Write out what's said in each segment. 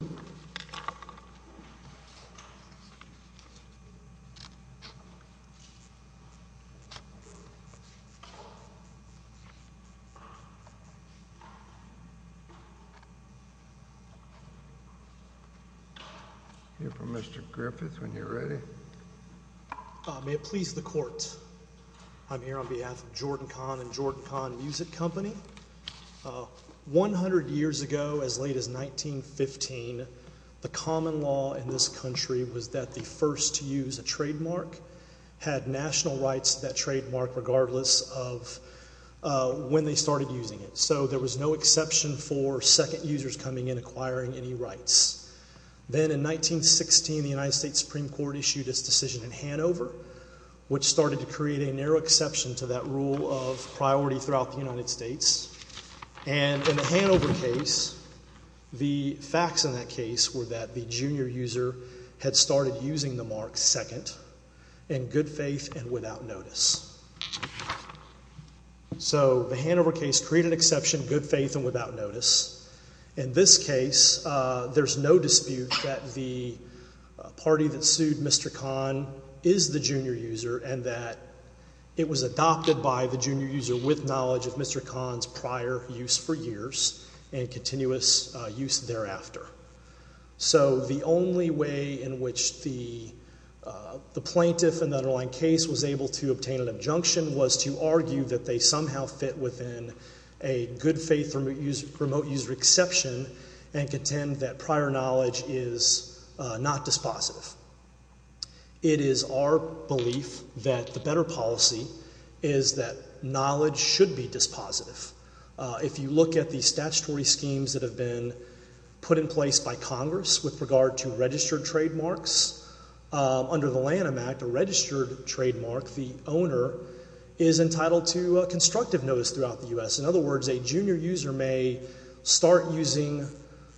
Here for Mr. Griffith when you're ready. May it please the court, I'm here on behalf of Jordan Kahn and Jordan Kahn Music Company. 100 years ago, as late as 1915, the common law in this country was that the first to use a trademark had national rights to that trademark regardless of when they started using it. So there was no exception for second users coming in acquiring any rights. Then in 1916, the United States Supreme Court issued its decision in Hanover, which started to create a narrow exception to that rule of priority throughout the United States. And in the Hanover case, the facts in that case were that the junior user had started using the mark second in good faith and without notice. So the Hanover case created an exception in good faith and without notice. In this case, there's no dispute that the party that sued Mr. Kahn is the junior user and that it was adopted by the junior user with knowledge of Mr. Kahn's prior use for years and continuous use thereafter. So the only way in which the plaintiff in the underlying case was able to obtain an injunction was to argue that they somehow fit within a good faith remote user exception and contend that prior knowledge is not dispositive. It is our belief that the better policy is that knowledge should be dispositive. If you look at the statutory schemes that have been put in place by Congress with regard to registered trademarks, under the Lanham Act, a registered trademark, the owner is entitled to a constructive notice throughout the U.S. In other words, a junior user may start using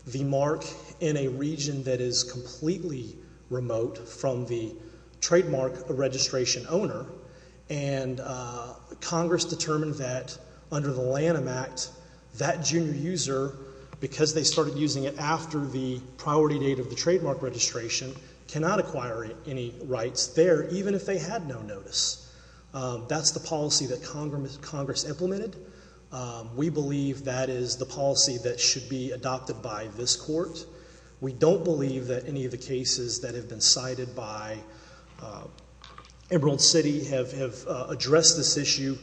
the mark in a region that is completely remote from the trademark registration owner and Congress determined that under the Lanham Act, that junior user, because they started using it after the priority date of the trademark registration, cannot acquire any rights there even if they had no notice. That's the policy that Congress implemented. We believe that is the policy that should be adopted by this court. We don't believe that any of the cases that have been cited by Emerald City have addressed this issue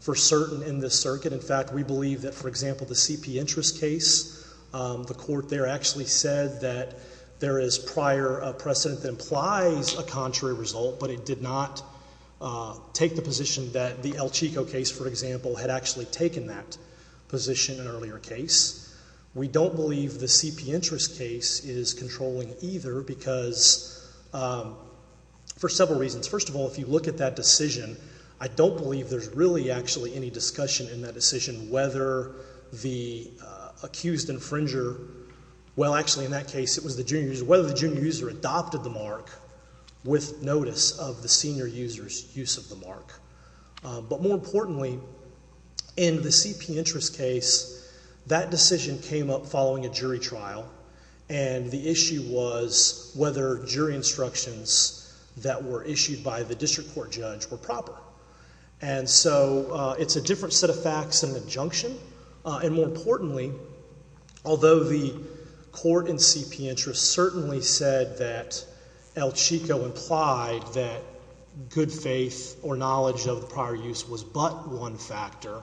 for certain in this circuit. In fact, we believe that, for example, the CP interest case, the court there actually said that there is prior precedent that implies a contrary result, but it did not take the position that the El Chico case, for example, had actually taken that position in an earlier case. We don't believe the CP interest case is controlling either because for several reasons. First of all, if you look at that decision, I don't believe there's really actually any discussion in that decision whether the accused infringer, well actually in that case it was the junior user, whether the junior user adopted the mark with notice of the senior user's use of the mark. But more importantly, in the CP interest case, that decision came up following a jury trial and the issue was whether jury instructions that were issued by the district court judge were proper. And so it's a different set of facts in an injunction and more importantly, although the court in CP interest certainly said that El Chico implied that good faith or knowledge of the prior use was but one factor,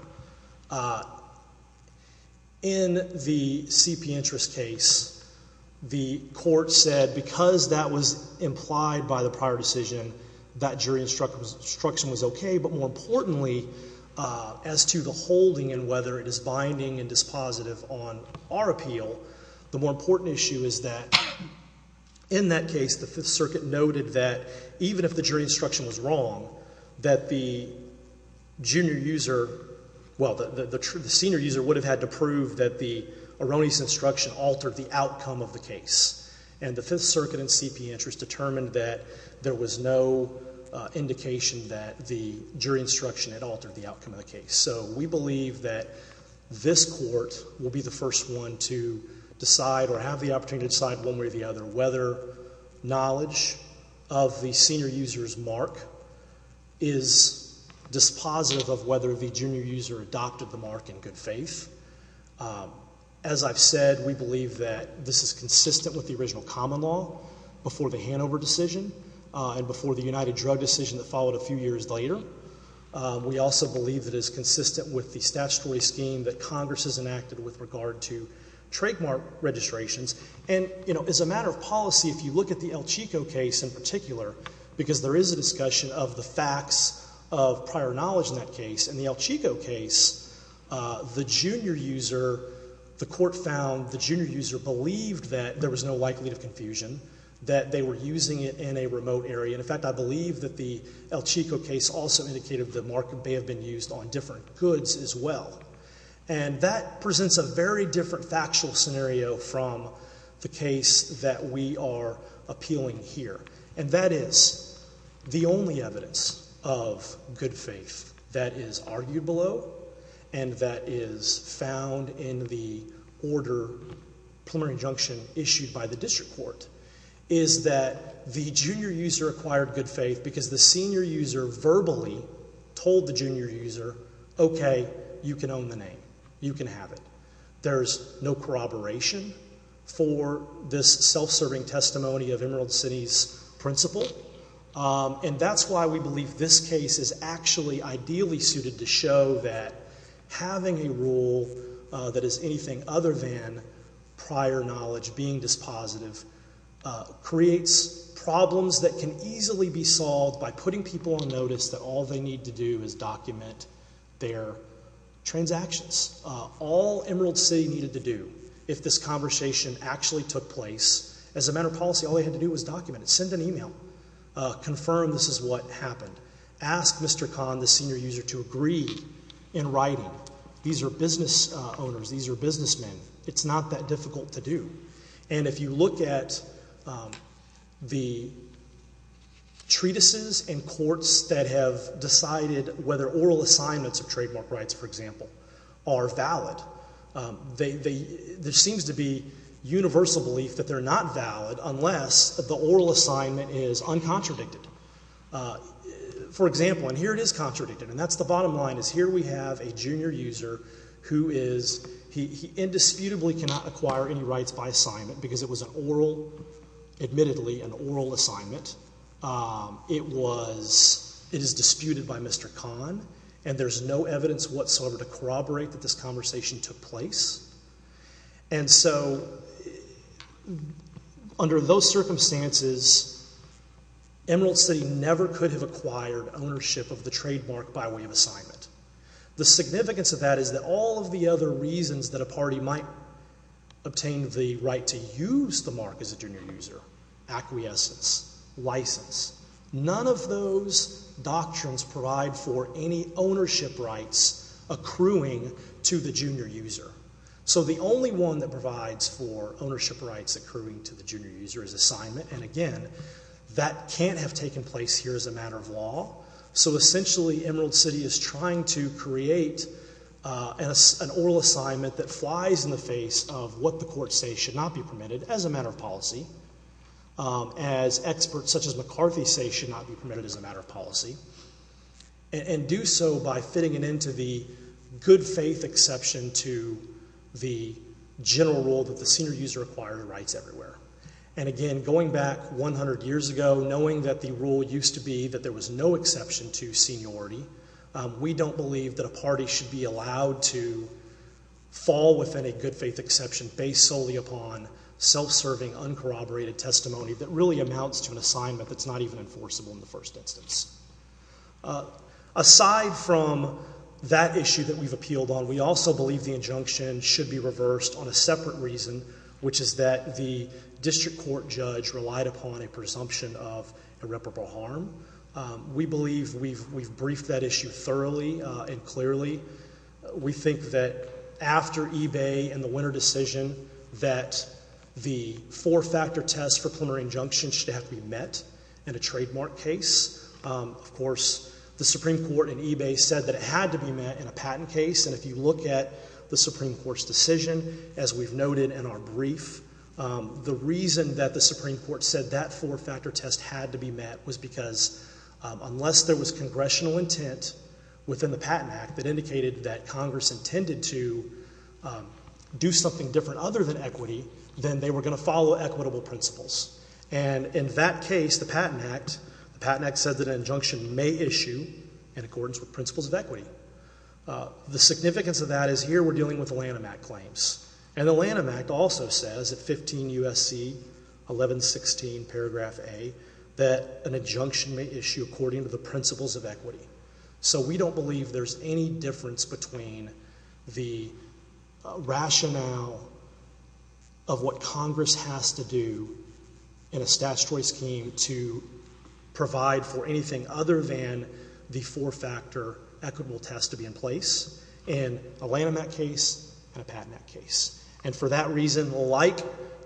in the CP interest case, the court said because that was implied by the prior decision, that jury instruction was okay, but more importantly, as to the holding and whether it is binding and dispositive on our appeal, the more important issue is that in that case the Fifth Circuit noted that even if the jury instruction was wrong, that the junior user, well the senior user would have had to prove that the erroneous instruction altered the outcome of the case. And the Fifth Circuit in CP interest determined that there was no indication that the jury instruction had altered the outcome of the case. So we believe that this court will be the first one to decide or have the opportunity to decide one way or the other whether knowledge of the senior user's mark is dispositive of whether the junior user adopted the mark in good faith. As I've said, we believe that this is consistent with the original common law before the Hanover decision and before the United Drug decision that followed a few years later. We also believe that it is consistent with the statutory scheme that Congress has enacted with regard to trademark registrations. And you know, as a matter of policy, if you look at the El Chico case in particular, because there is a discussion of the facts of prior knowledge in that case, in the El Chico case the junior user, the court found the junior user believed that there was no likelihood of confusion, that they were using it in a remote area. In fact, I believe that the El Chico case also indicated that the mark may have been used on different goods as well. And that presents a very different factual scenario from the case that we are appealing here. And that is the only evidence of good faith that is argued below and that is found in the order, preliminary injunction issued by the district court, is that the junior user acquired good faith because the senior user verbally told the junior user, okay, you can own the name. You can have it. There's no corroboration for this self-serving testimony of Emerald City's principle. And that's why we believe this case is actually ideally suited to show that having a rule that is anything other than prior knowledge being dispositive creates problems that can easily be solved by putting people on notice that all they need to do is document their transactions. All Emerald City needed to do if this conversation actually took place, as a matter of policy, all they had to do was document it, send an email, confirm this is what happened, ask Mr. Kahn, the senior user, to agree in writing, these are business owners, these are businessmen, it's not that difficult to do. And if you look at the treatises and courts that have decided whether oral assignments of trademark rights, for example, are valid, there seems to be universal belief that they're not valid unless the oral assignment is uncontradicted. For example, and here it is contradicted, and that's the bottom line, is here we have a junior user who is, he indisputably cannot acquire any rights by assignment because it was an oral, admittedly, an oral assignment. It was, it is disputed by Mr. Kahn, and there's no evidence whatsoever to corroborate that this conversation took place. And so, under those circumstances, Emerald City never could have acquired ownership of the trademark by way of assignment. The significance of that is that all of the other reasons that a party might obtain the right to use the mark as a junior user, acquiescence, license, none of those doctrines provide for any ownership rights accruing to the junior user. So the only one that provides for ownership rights accruing to the junior user is assignment, and again, that can't have taken place here as a matter of law. So essentially Emerald City is trying to create an oral assignment that flies in the face of what the courts say should not be permitted as a matter of policy, as experts such as McCarthy say should not be permitted as a matter of policy, and do so by fitting it into the good faith exception to the general rule that the senior user acquired rights everywhere. And again, going back 100 years ago, knowing that the rule used to be that there was no exception to seniority, we don't believe that a party should be allowed to fall within a good faith exception based solely upon self-serving, uncorroborated testimony that really amounts to an assignment that's not even enforceable in the first instance. Aside from that issue that we've appealed on, we also believe the injunction should be reversed on a separate reason, which is that the district court judge relied upon a presumption of irreparable harm. We believe we've briefed that issue thoroughly and clearly. We think that after eBay and the winner decision that the four-factor test for plenary injunction should have to be met in a trademark case. Of course, the Supreme Court in eBay said that it had to be met in a patent case, and if you look at the Supreme Court's decision, as we've noted in our brief, the reason that the Supreme Court said that four-factor test had to be met was because unless there was an indication that Congress intended to do something different other than equity, then they were going to follow equitable principles. And in that case, the Patent Act, the Patent Act said that an injunction may issue in accordance with principles of equity. The significance of that is here we're dealing with Lanham Act claims, and the Lanham Act also says at 15 U.S.C. 1116 paragraph A that an injunction may issue according to the principles of equity. So we don't believe there's any difference between the rationale of what Congress has to do in a statutory scheme to provide for anything other than the four-factor equitable test to be in place in a Lanham Act case and a Patent Act case. And for that reason, like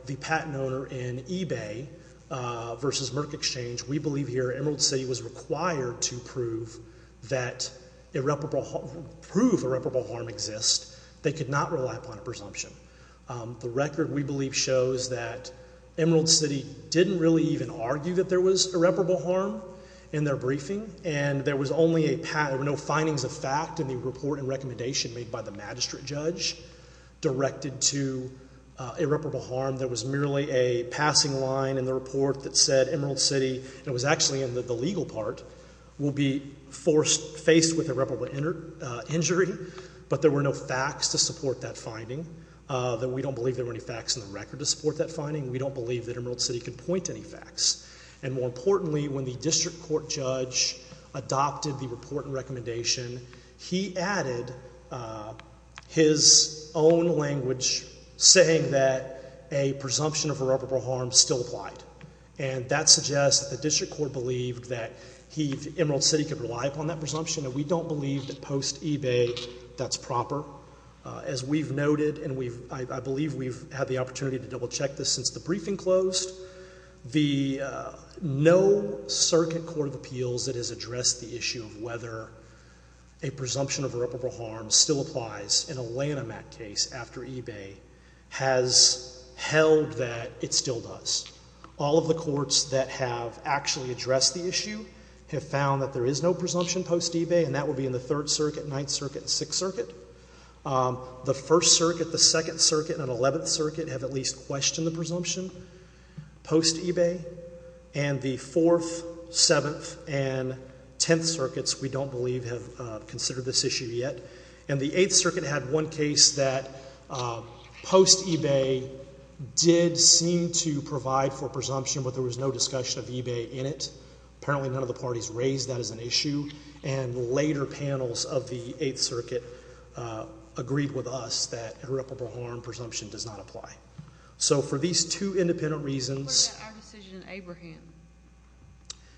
the patent owner in eBay versus Merck Exchange, we believe here Emerald City was required to prove that irreparable, prove irreparable harm exists. They could not rely upon a presumption. The record, we believe, shows that Emerald City didn't really even argue that there was irreparable harm in their briefing, and there was only a, there were no findings of fact in the report and recommendation made by the magistrate judge directed to irreparable harm. There was merely a passing line in the report that said Emerald City, and it was actually in the legal part, will be forced, faced with irreparable injury, but there were no facts to support that finding, that we don't believe there were any facts in the record to support that finding. We don't believe that Emerald City could point to any facts. And more importantly, when the district court judge adopted the report and recommendation, he added his own language saying that a presumption of irreparable harm still applied. And that suggests that the district court believed that he, Emerald City, could rely upon that presumption, and we don't believe that post-eBay that's proper. As we've noted, and we've, I believe we've had the opportunity to double-check this since the briefing closed, the no-circuit court of appeals that has addressed the issue of whether a presumption of irreparable harm still applies in a Lanham Act case after eBay has held that it still does. All of the courts that have actually addressed the issue have found that there is no presumption post-eBay, and that would be in the Third Circuit, Ninth Circuit, and Sixth Circuit. The First Circuit, the Second Circuit, and the Eleventh Circuit have at least questioned the presumption post-eBay, and the Fourth, Seventh, and Tenth Circuits, we don't believe, have considered this issue yet. And the Eighth Circuit had one case that post-eBay did seem to provide for presumption, but there was no discussion of eBay in it. Apparently, none of the parties raised that as an issue, and later panels of the Eighth Circuit agreed with us that irreparable harm presumption does not apply. So for these two independent reasons... What about our decision in Abraham?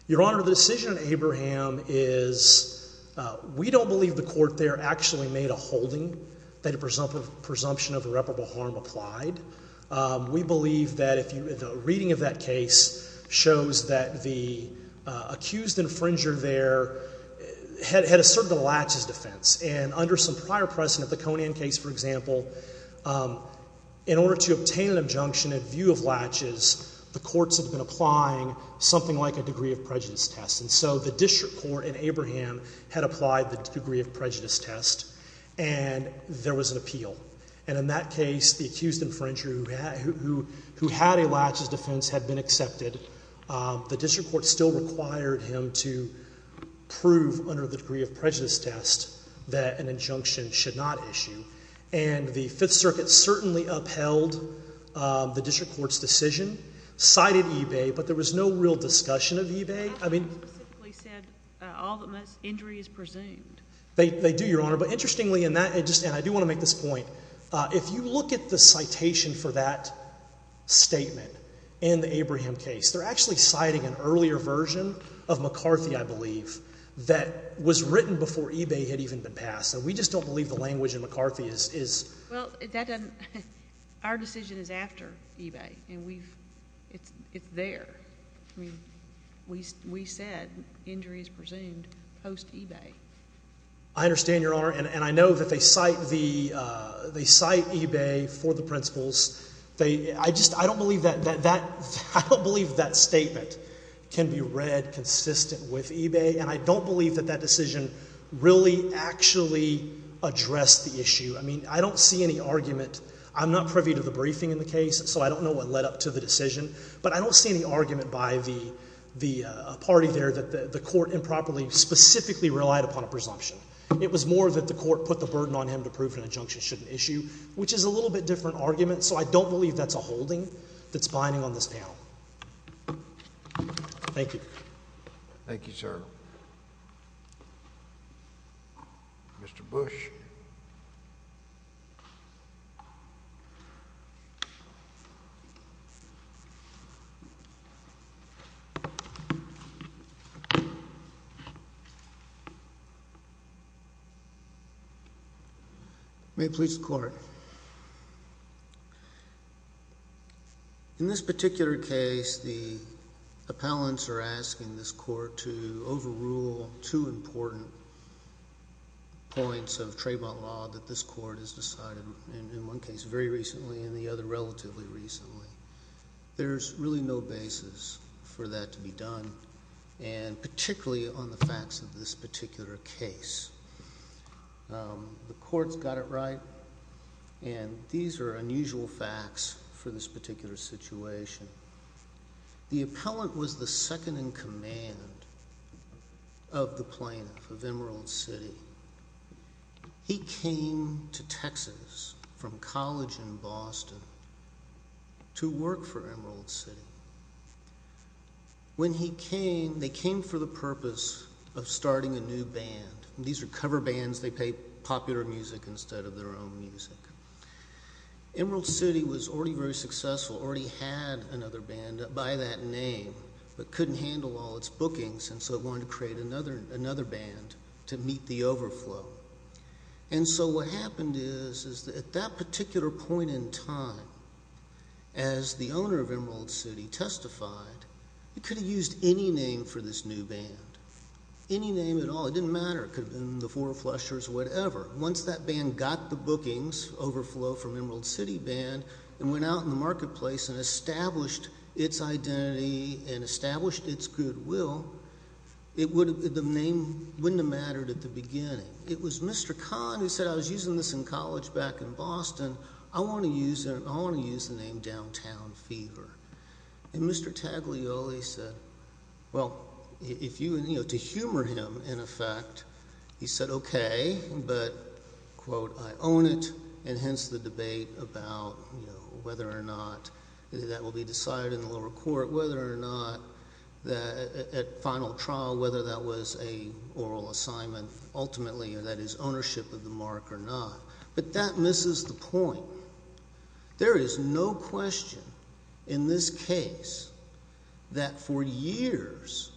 Your Honor, the decision in Abraham is, we don't believe the court there actually made a holding that a presumption of irreparable harm applied. We believe that if you, the reading of that case shows that the accused infringer there had asserted a laches defense, and under some prior precedent, the Conan case, for example, in order to obtain an injunction in view of laches, the courts had been applying something like a degree of prejudice test, and so the district court in Abraham had applied the degree of prejudice test, and there was an appeal. And in that case, the accused infringer who had a laches defense had been accepted. The district court still required him to prove under the degree of prejudice test that an injunction should not issue, and the Fifth Circuit certainly upheld the district court's decision, cited eBay, but there was no real discussion of eBay. I mean... They actually specifically said, all that must, injury is presumed. They do, Your Honor, but interestingly in that, and I do want to make this point, if you look at the citation for that statement in the Abraham case, they're actually citing an earlier version of McCarthy, I believe, that was written before eBay had even been passed, and we just don't believe the language in McCarthy is... Well, that doesn't... Our decision is after eBay, and we've... It's there. I mean, we said, injury is presumed post-eBay. I understand, Your Honor, and I know that they cite eBay for the principles. I just, I don't believe that statement can be read consistent with eBay, and I don't believe that that decision really actually addressed the issue. I mean, I don't see any argument. I'm not privy to the briefing in the case, so I don't know what led up to the decision, but I don't see any argument by the party there that the court improperly specifically relied upon a presumption. It was more that the court put the burden on him to prove an injunction shouldn't issue, which is a little bit different argument, so I don't believe that's a holding that's binding on this panel. Thank you. Thank you, sir. Mr. Bush. May it please the Court. In this particular case, the appellants are asking this court to overrule two important points of Trayvon law that this court has decided in one case very recently and the other relatively recently. There's really no basis for that to be done, and particularly on the facts of this particular case. The court's got it right, and these are unusual facts for this particular situation. The appellant was the second-in-command of the plaintiff of Emerald City. He came to Texas from college in Boston to work for Emerald City. When he came, they came for the purpose of starting a new band. These are cover bands. They play popular music instead of their own music. Emerald City was already very successful, already had another band by that name, but couldn't handle all its bookings, and so it wanted to create another band to meet the overflow. What happened is, at that particular point in time, as the owner of Emerald City testified, he could have used any name for this new band, any name at all. It didn't matter. It could have been the Four Flushers or whatever. Once that band got the bookings overflow from Emerald City Band and went out in the marketplace and established its identity and established its goodwill, the name wouldn't have mattered at the beginning. It was Mr. Kahn who said, I was using this in college back in Boston. I want to use the name Downtown Fever. Mr. Taglioli said, well, to humor him, in effect, he said, okay, but, quote, I own it, and hence the debate about whether or not that will be decided in the lower court, whether or not, at final trial, whether that was an oral assignment, ultimately, and that is ownership of the mark or not, but that misses the point. There is no question in this case that, for years,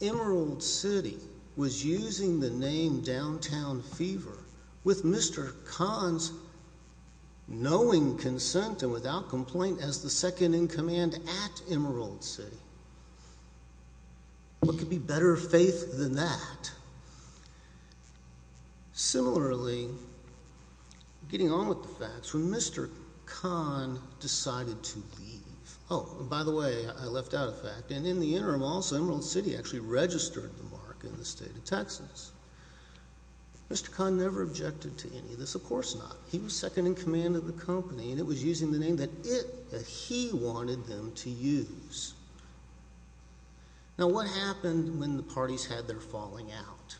Emerald City was using the name Downtown Fever with Mr. Kahn's knowing consent and without complaint as the second-in-command at Emerald City. What could be better faith than that? Similarly, getting on with the facts, when Mr. Kahn decided to leave, oh, and by the way, I left out a fact, and in the interim, also, Emerald City actually registered the mark in the state of Texas, Mr. Kahn never objected to any of this, of course not. He was second-in-command of the company, and it was using the name that it, that he wanted them to use. Now, what happened when the parties had their falling out?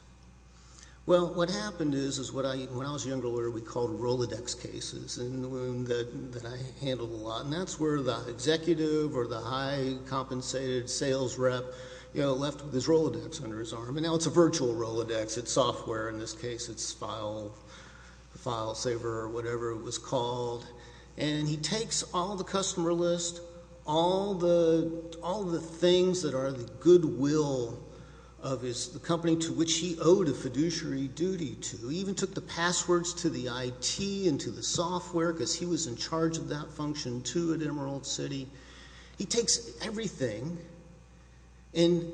Well, what happened is, is what I, when I was younger, we called Rolodex cases, and the one that I handled a lot, and that's where the executive or the high-compensated sales rep, you know, left his Rolodex under his arm, and now it's a virtual Rolodex, it's software, in this case, it's FileSaver or whatever it was called, and he takes all the things that are the goodwill of his, the company to which he owed a fiduciary duty to, he even took the passwords to the IT and to the software, because he was in charge of that function too at Emerald City. He takes everything, and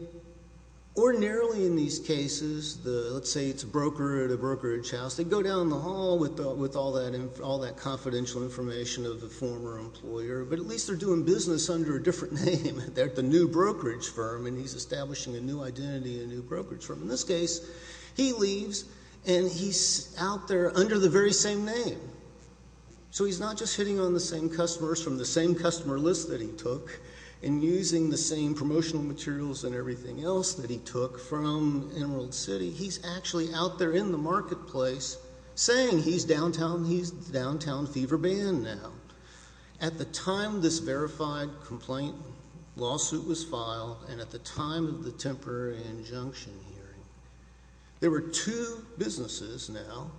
ordinarily in these cases, the, let's say it's a broker at a brokerage house, they go down in the hall with all that, all that confidential information of the former employer, but at least they're doing business under a different name, they're at the new brokerage firm, and he's establishing a new identity, a new brokerage firm. In this case, he leaves, and he's out there under the very same name, so he's not just hitting on the same customers from the same customer list that he took, and using the same promotional materials and everything else that he took from Emerald City, he's actually out there in the marketplace saying he's downtown, he's downtown fever ban now. At the time this verified complaint lawsuit was filed, and at the time of the temporary injunction hearing, there were two businesses now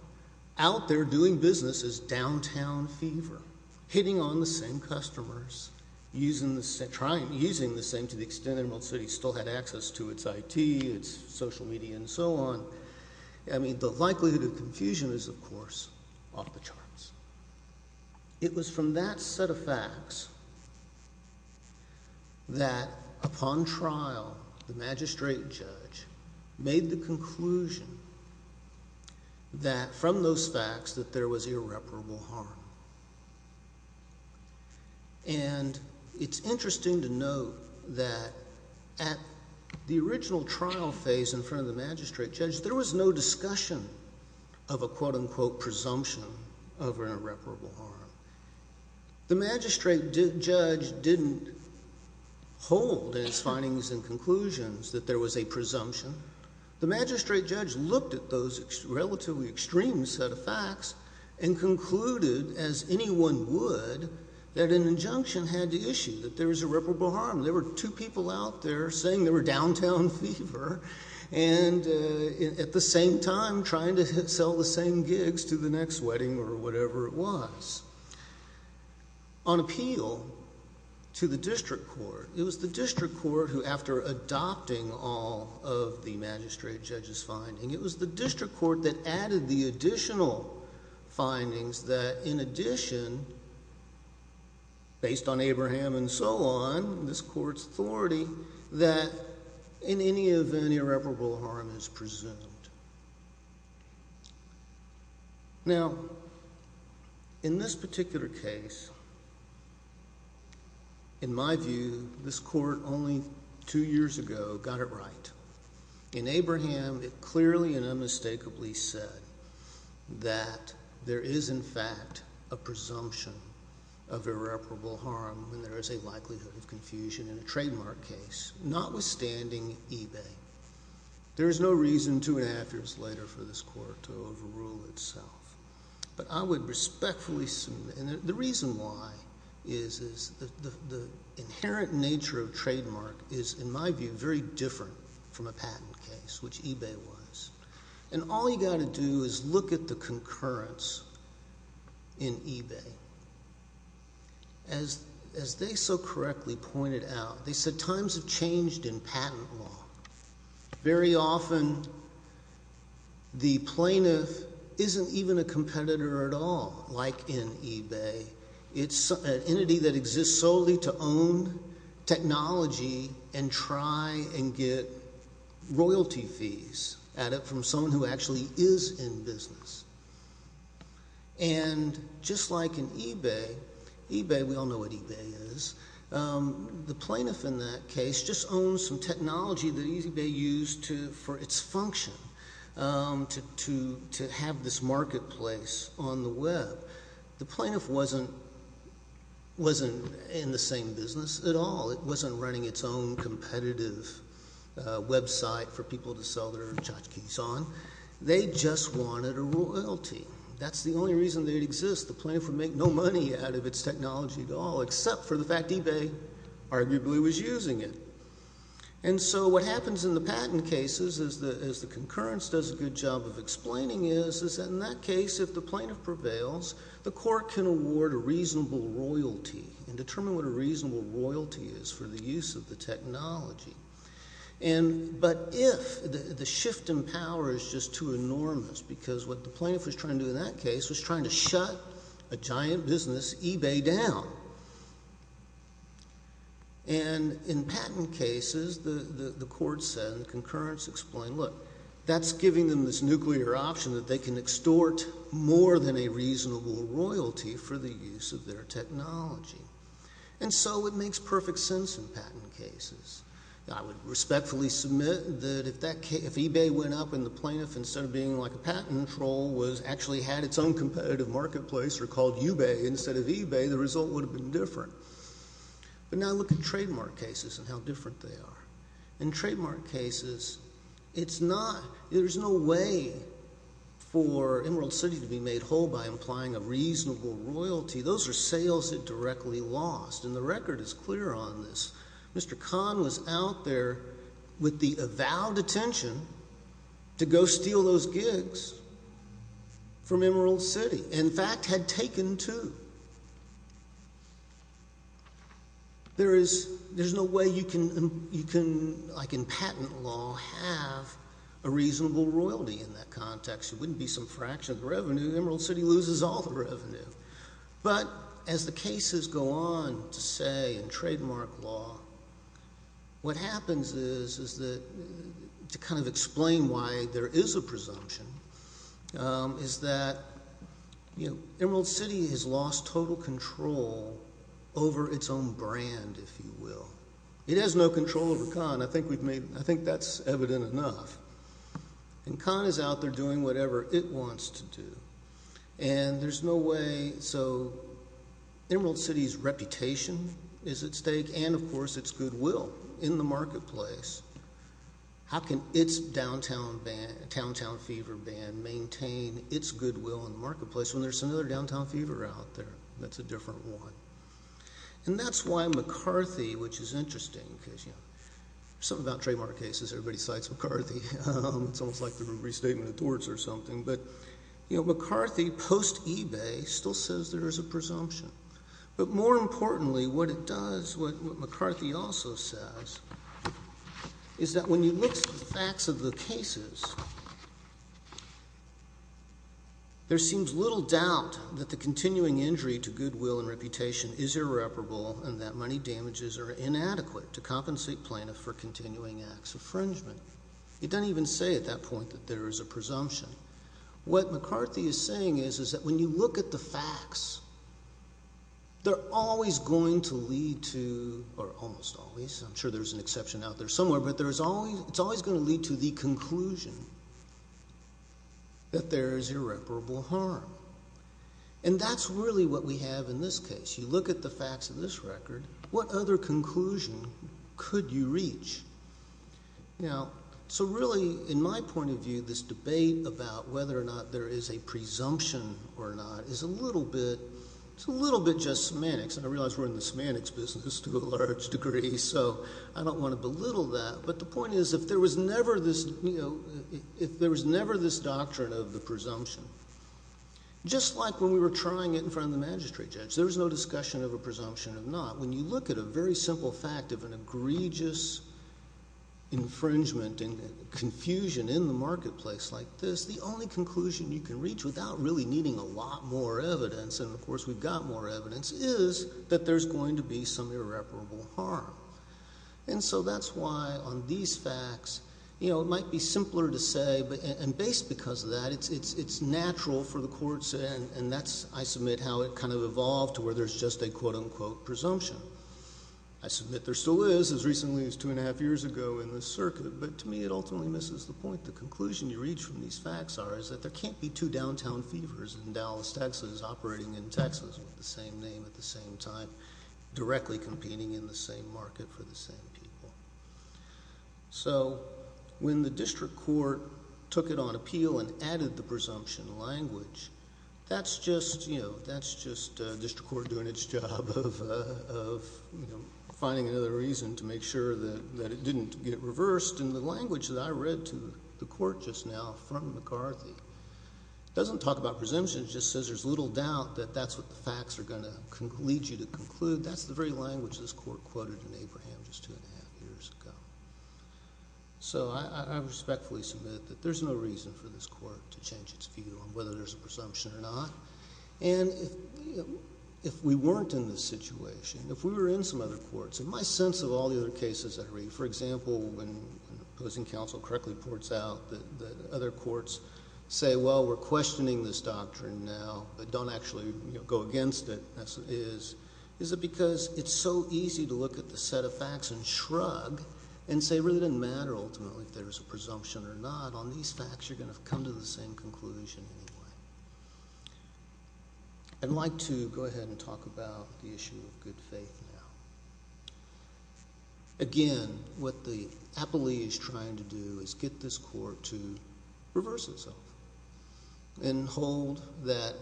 out there doing business as downtown fever, hitting on the same customers, using the same, trying, using the same to the extent Emerald City still had access to its IT, its social media, and so on, I mean, the likelihood of confusion is, of course, off the charts. It was from that set of facts that upon trial, the magistrate judge made the conclusion that from those facts that there was irreparable harm. And it's interesting to note that at the original trial phase in front of the magistrate judge, there was no discussion of a quote-unquote presumption of irreparable harm. The magistrate judge didn't hold in his findings and conclusions that there was a presumption. The magistrate judge looked at those relatively extreme set of facts and concluded, as anyone would, that an injunction had to issue, that there was irreparable harm. There were two people out there saying they were downtown fever and at the same time trying to sell the same gigs to the next wedding or whatever it was. On appeal to the district court, it was the district court who, after adopting all of the magistrate judge's findings, it was the district court that added the additional findings that in addition, based on Abraham and so on, this court's authority, that in any event irreparable harm is presumed. Now, in this particular case, in my view, this court only two years ago got it right. In Abraham, it clearly and unmistakably said that there is, in fact, a presumption of irreparable harm when there is a likelihood of confusion in a trademark case, notwithstanding eBay. There is no reason two and a half years later for this court to overrule itself. I would respectfully assume, and the reason why is the inherent nature of trademark is, in my view, very different from a patent case, which eBay was. All you got to do is look at the concurrence in eBay. As they so correctly pointed out, they said times have changed in patent law. Very often, the plaintiff isn't even a competitor at all, like in eBay. It's an entity that exists solely to own technology and try and get royalty fees at it from someone who actually is in business. Just like in eBay, we all know what eBay is, the plaintiff in that case just owns some technology that eBay used for its function, to have this marketplace on the web. The plaintiff wasn't in the same business at all. It wasn't running its own competitive website for people to sell their tchotchkes on. They just wanted a royalty. That's the only reason they'd exist. The plaintiff would make no money out of its technology at all, except for the fact eBay arguably was using it. What happens in the patent cases, as the concurrence does a good job of explaining, is that in that case, if the plaintiff prevails, the court can award a reasonable royalty and determine what a reasonable royalty is for the use of the technology. But if the shift in power is just too enormous, because what the plaintiff was trying to do in that case was trying to shut a giant business, eBay, down. In patent cases, the court said, and the concurrence explained, look, that's giving them this nuclear option that they can extort more than a reasonable royalty for the use of their technology. And so it makes perfect sense in patent cases. I would respectfully submit that if eBay went up and the plaintiff, instead of being like a patent troll, actually had its own competitive marketplace or called Ubay instead of eBay, the result would have been different. But now look at trademark cases and how different they are. In trademark cases, it's not, there's no way for Emerald City to be made whole by implying a reasonable royalty. Those are sales that directly lost, and the record is clear on this. Mr. Kahn was out there with the avowed attention to go steal those gigs from Emerald City, in fact, had taken two. There is, there's no way you can, like in patent law, have a reasonable royalty in that context. It wouldn't be some fraction of the revenue. Emerald City loses all the revenue. But as the cases go on to say in trademark law, what happens is that, to kind of explain why there is a presumption, is that Emerald City has lost total control over its own brand, if you will. It has no control over Kahn. I think we've made, I think that's evident enough. And Kahn is out there doing whatever it wants to do. And there's no way, so Emerald City's reputation is at stake, and of course its goodwill in the marketplace. How can its downtown band, downtown fever band, maintain its goodwill in the marketplace when there's another downtown fever out there that's a different one? And that's why McCarthy, which is interesting because, you know, something about trademark cases, everybody cites McCarthy. It's almost like the restatement of Torts or something. But McCarthy, post-eBay, still says there is a presumption. But more importantly, what it does, what McCarthy also says, is that when you look at the facts of the cases, there seems little doubt that the continuing injury to goodwill and reputation is irreparable and that money damages are inadequate to compensate plaintiff for continuing acts of infringement. It doesn't even say at that point that there is a presumption. What McCarthy is saying is that when you look at the facts, they're always going to lead to, or almost always, I'm sure there's an exception out there somewhere, but it's always going to lead to the conclusion that there is irreparable harm. And that's really what we have in this case. You look at the facts of this record, what other conclusion could you reach? Now, so really, in my point of view, this debate about whether or not there is a presumption or not is a little bit, it's a little bit just semantics. And I realize we're in the semantics business to a large degree, so I don't want to belittle that. But the point is, if there was never this, you know, if there was never this doctrine of the presumption, just like when we were trying it in front of the magistrate judge, there was no discussion of a presumption or not. When you look at a very simple fact of an egregious infringement and confusion in the marketplace like this, the only conclusion you can reach without really needing a lot more evidence, and of course we've got more evidence, is that there's going to be some irreparable harm. And so that's why on these facts, you know, it might be simpler to say, and based because of that, it's natural for the courts, and that's, I submit, how it kind of evolved to where there's just a quote-unquote presumption. I submit there still is, as recently as two and a half years ago in the circuit, but to me it ultimately misses the point. The conclusion you reach from these facts are, is that there can't be two downtown fevers in Dallas, Texas, operating in Texas with the same name at the same time, directly competing in the same market for the same people. So when the district court took it on appeal and added the presumption language, that's just, you know, that's just district court doing its job of, you know, finding another reason to make sure that it didn't get reversed, and the language that I read to the court just now from McCarthy doesn't talk about presumption, it just says there's little doubt that that's what the facts are going to lead you to conclude. But that's the very language this court quoted in Abraham just two and a half years ago. So I respectfully submit that there's no reason for this court to change its view on whether there's a presumption or not, and if we weren't in this situation, if we were in some other courts, in my sense of all the other cases that I read, for example, when an opposing counsel correctly points out that other courts say, well, we're questioning this doctrine now, but don't actually go against it, is it because it's so easy to look at the set of facts and shrug and say it really doesn't matter ultimately if there's a presumption or not, on these facts you're going to come to the same conclusion anyway. I'd like to go ahead and talk about the issue of good faith now. Again, what the appellee is trying to do is get this court to reverse itself and hold that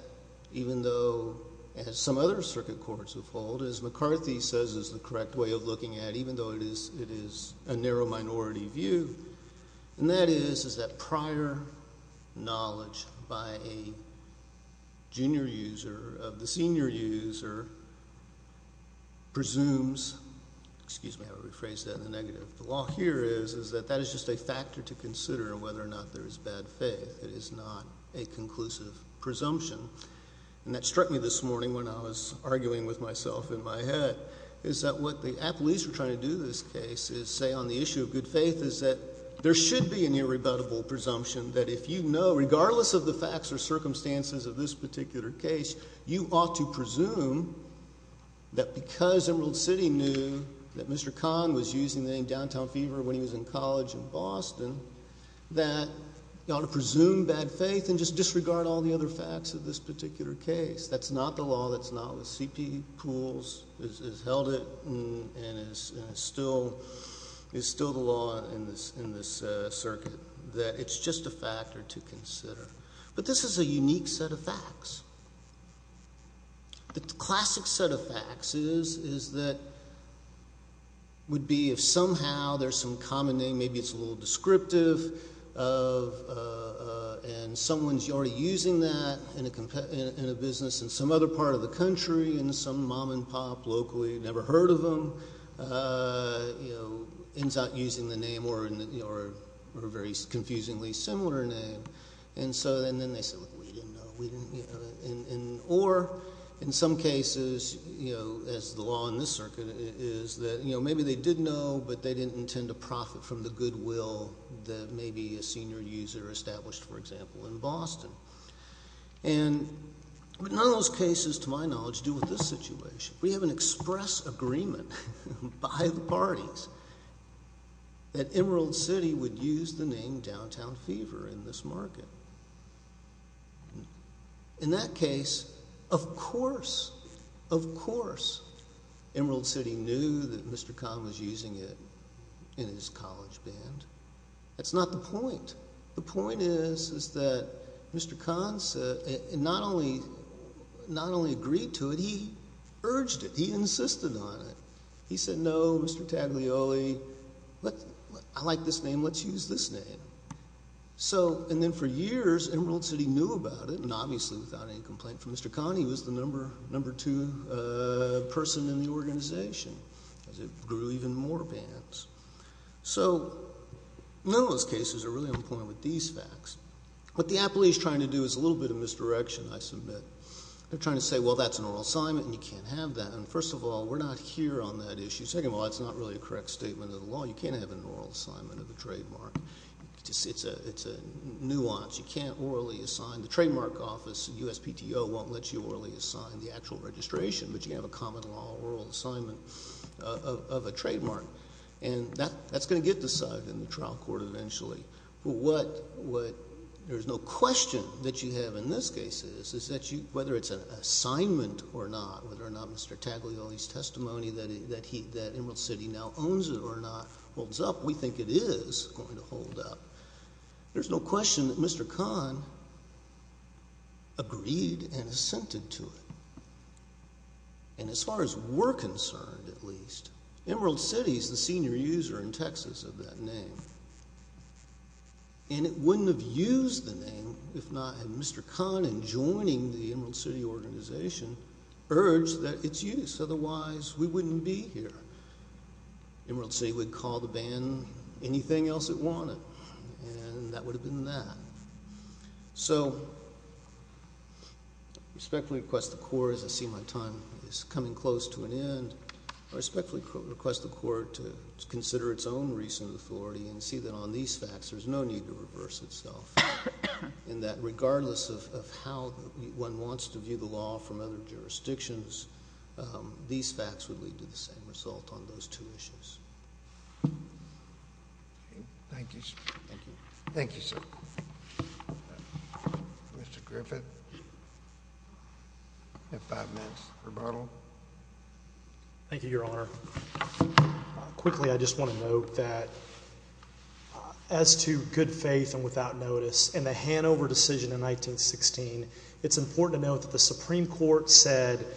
even though, as some other circuit courts have held, as McCarthy says is the correct way of looking at it, even though it is a narrow minority view, and that is that prior knowledge by a junior user of the senior user presumes, excuse me, I'll rephrase that in the negative, the law here is that that is just a factor to consider whether or not there is bad faith. It is not a conclusive presumption. And that struck me this morning when I was arguing with myself in my head, is that what the appellees are trying to do in this case is say on the issue of good faith is that there should be an irrebuttable presumption that if you know, regardless of the facts or circumstances of this particular case, you ought to presume that because Emerald City knew that Mr. Kahn was using the name Downtown Fever when he was in college in Boston, that you ought to presume bad faith and just disregard all the other facts of this particular case. That's not the law. That's not what C.P. Poole's has held it and is still the law in this circuit, that it's just a factor to consider. But this is a unique set of facts. The classic set of facts is that would be if somehow there's some common name, maybe it's a little descriptive, and someone's already using that in a business in some other part of the country, in some mom and pop locally, never heard of them, ends up using the name or a very confusingly similar name. And so then they say, look, we didn't know. Or in some cases, as the law in this circuit is, that maybe they did know, but they didn't intend to profit from the goodwill that maybe a senior user established, for example, in Boston. And none of those cases, to my knowledge, do with this situation. We have an express agreement by the parties that Emerald City would use the name Downtown Fever in this market. In that case, of course, of course Emerald City knew that Mr. Kahn was using it in his college band. That's not the point. The point is that Mr. Kahn not only agreed to it, he urged it. He insisted on it. He said, no, Mr. Taglioli, I like this name, let's use this name. And then for years Emerald City knew about it, and obviously without any complaint from Mr. Kahn, he was the number two person in the organization, as it grew even more bands. So none of those cases are really on point with these facts. What the appellee is trying to do is a little bit of misdirection, I submit. They're trying to say, well, that's an oral assignment and you can't have that. And first of all, we're not here on that issue. Second of all, that's not really a correct statement of the law. You can't have an oral assignment of a trademark. It's a nuance. You can't orally assign. The Trademark Office and USPTO won't let you orally assign the actual registration, but you can have a common law oral assignment of a trademark. And that's going to get decided in the trial court eventually. There's no question that you have in this case is that whether it's an assignment or not, whether or not Mr. Taglioli's testimony that Emerald City now owns it or not holds up, we think it is going to hold up. There's no question that Mr. Kahn agreed and assented to it. And as far as we're concerned at least, Emerald City's the senior user in Texas of that name. And it wouldn't have used the name if not had Mr. Kahn, in joining the Emerald City organization, urged that it's used. Otherwise, we wouldn't be here. Emerald City would call the band anything else it wanted. And that would have been that. So, I respectfully request the Court, as I see my time is coming close to an end, I respectfully request the Court to consider its own recent authority and see that on these facts there's no need to reverse itself. And that regardless of how one wants to view the law from other jurisdictions, these facts would lead to the same result on those two issues. Thank you. Thank you, sir. Mr. Griffith. You have five minutes. Rebuttal. Thank you, Your Honor. Quickly, I just want to note that as to good faith and without notice, in the Hanover decision in 1916, it's important to note that the Supreme Court senior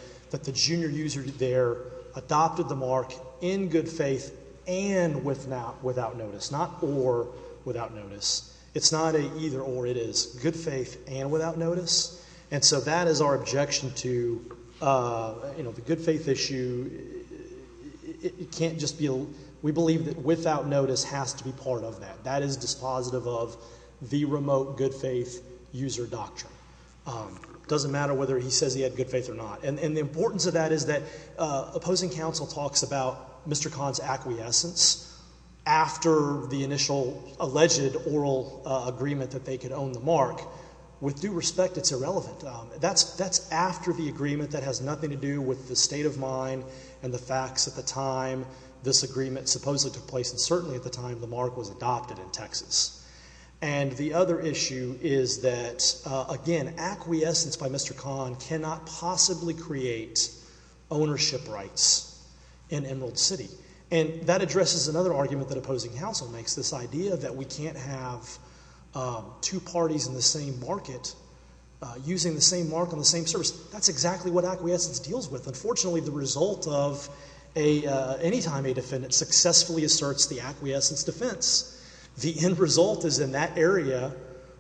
user there adopted the mark in good faith and without notice, not or without notice. It's not a either or, it is good faith and without notice. And so that is our objection to, you know, the good faith issue. It can't just be, we believe that without notice has to be part of that. That is dispositive of the remote good faith user doctrine. It doesn't matter whether he says he had good faith or not. And the importance of that is that opposing counsel talks about Mr. Kahn's acquiescence after the initial alleged oral agreement that they could own the mark. With due respect, it's irrelevant. That's after the agreement that has nothing to do with the state of mind and the facts at the time this agreement supposedly took place and certainly at the time the mark was adopted in Texas. And the other issue is that, again, acquiescence by Mr. Kahn cannot possibly create ownership rights in Emerald City. And that addresses another argument that opposing counsel makes, this idea that we can't have two parties in the same market using the same mark on the same service. That's exactly what acquiescence deals with. Unfortunately, the result of a, anytime a defendant successfully asserts the acquiescence defense, the end result is in that area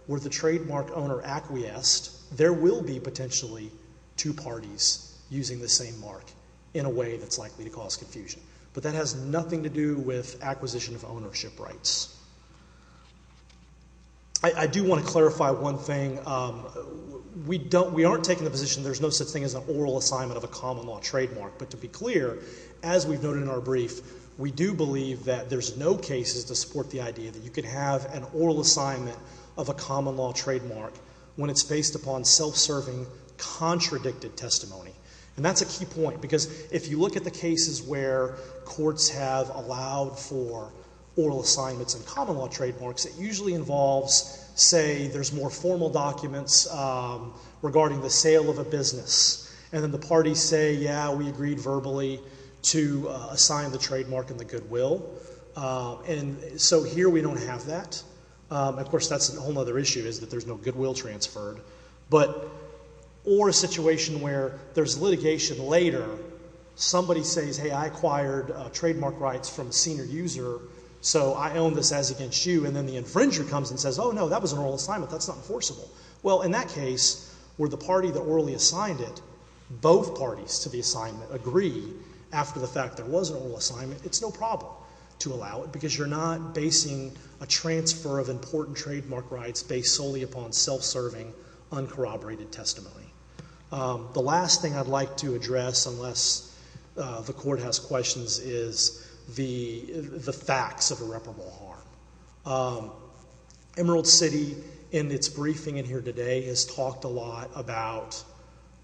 where the trademark owner acquiesced, there will be potentially two parties using the same mark in a way that's likely to cause confusion. But that has nothing to do with acquisition of ownership rights. I do want to clarify one thing. We don't, we aren't taking the position there's no such thing as an oral assignment of a common law trademark. But to be clear, as we've noted in our brief, we do believe that there's no cases to support the idea that you can have an oral assignment of a common law trademark when it's based upon self-serving contradicted testimony. And that's a key point because if you look at the cases where courts have allowed for oral assignments and common law trademarks, it usually involves, say, there's more formal documents regarding the sale of a business. And then the parties say, yeah, we agreed verbally to assign the trademark in the goodwill. And so here we don't have that. Of course, that's a whole other issue is that there's no goodwill transferred. But or a situation where there's litigation later, somebody says, hey, I acquired trademark rights from a senior user, so I own this as against you. And then the infringer comes and says, oh, no, that was an oral assignment. That's not enforceable. Well, in that case, were the party that orally assigned it, both parties to the assignment agree after the fact there was an oral assignment, it's no problem to allow it because you're not basing a transfer of important trademark rights based solely upon self-serving, uncorroborated testimony. The last thing I'd like to address, unless the Court has questions, is the facts of irreparable harm. Emerald City, in its briefing in here today, has talked a lot about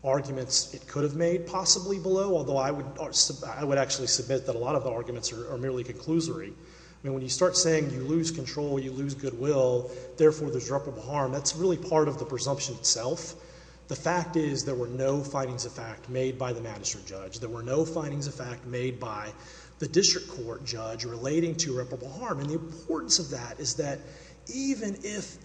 arguments it could have made possibly below, although I would actually submit that a lot of the arguments are merely conclusory. I mean, when you start saying you lose control, you lose goodwill, therefore there's irreparable harm, that's really part of the presumption itself. The fact is there were no findings of fact made by the magistrate judge. There were no findings of fact made by the district court judge relating to irreparable harm. And the importance of that is that even if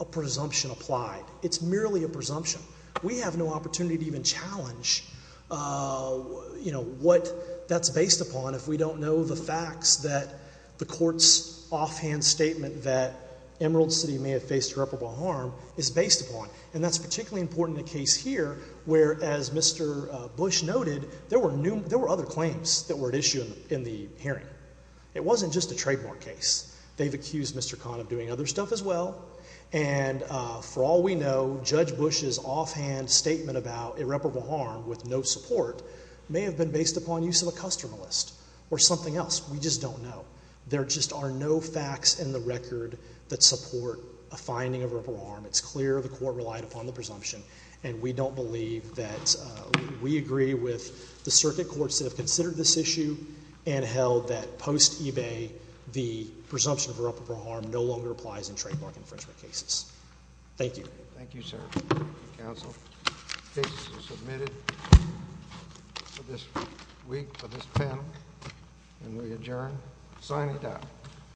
a presumption applied, it's merely a presumption. We have no opportunity to even challenge, you know, what that's based upon if we don't know the facts that the Court's offhand statement that Emerald City may have faced irreparable harm is based upon. And that's for other claims that were at issue in the hearing. It wasn't just a trademark case. They've accused Mr. Kahn of doing other stuff as well. And for all we know, Judge Bush's offhand statement about irreparable harm with no support may have been based upon use of a customer list or something else. We just don't know. There just are no facts in the record that support a finding of irreparable harm. It's clear the Court relied upon the evidence that have considered this issue and held that post eBay, the presumption of irreparable harm no longer applies in trademark infringement cases. Thank you. Thank you, sir. Counsel. The case is submitted for this week, for this panel. And we adjourn. Sign it out.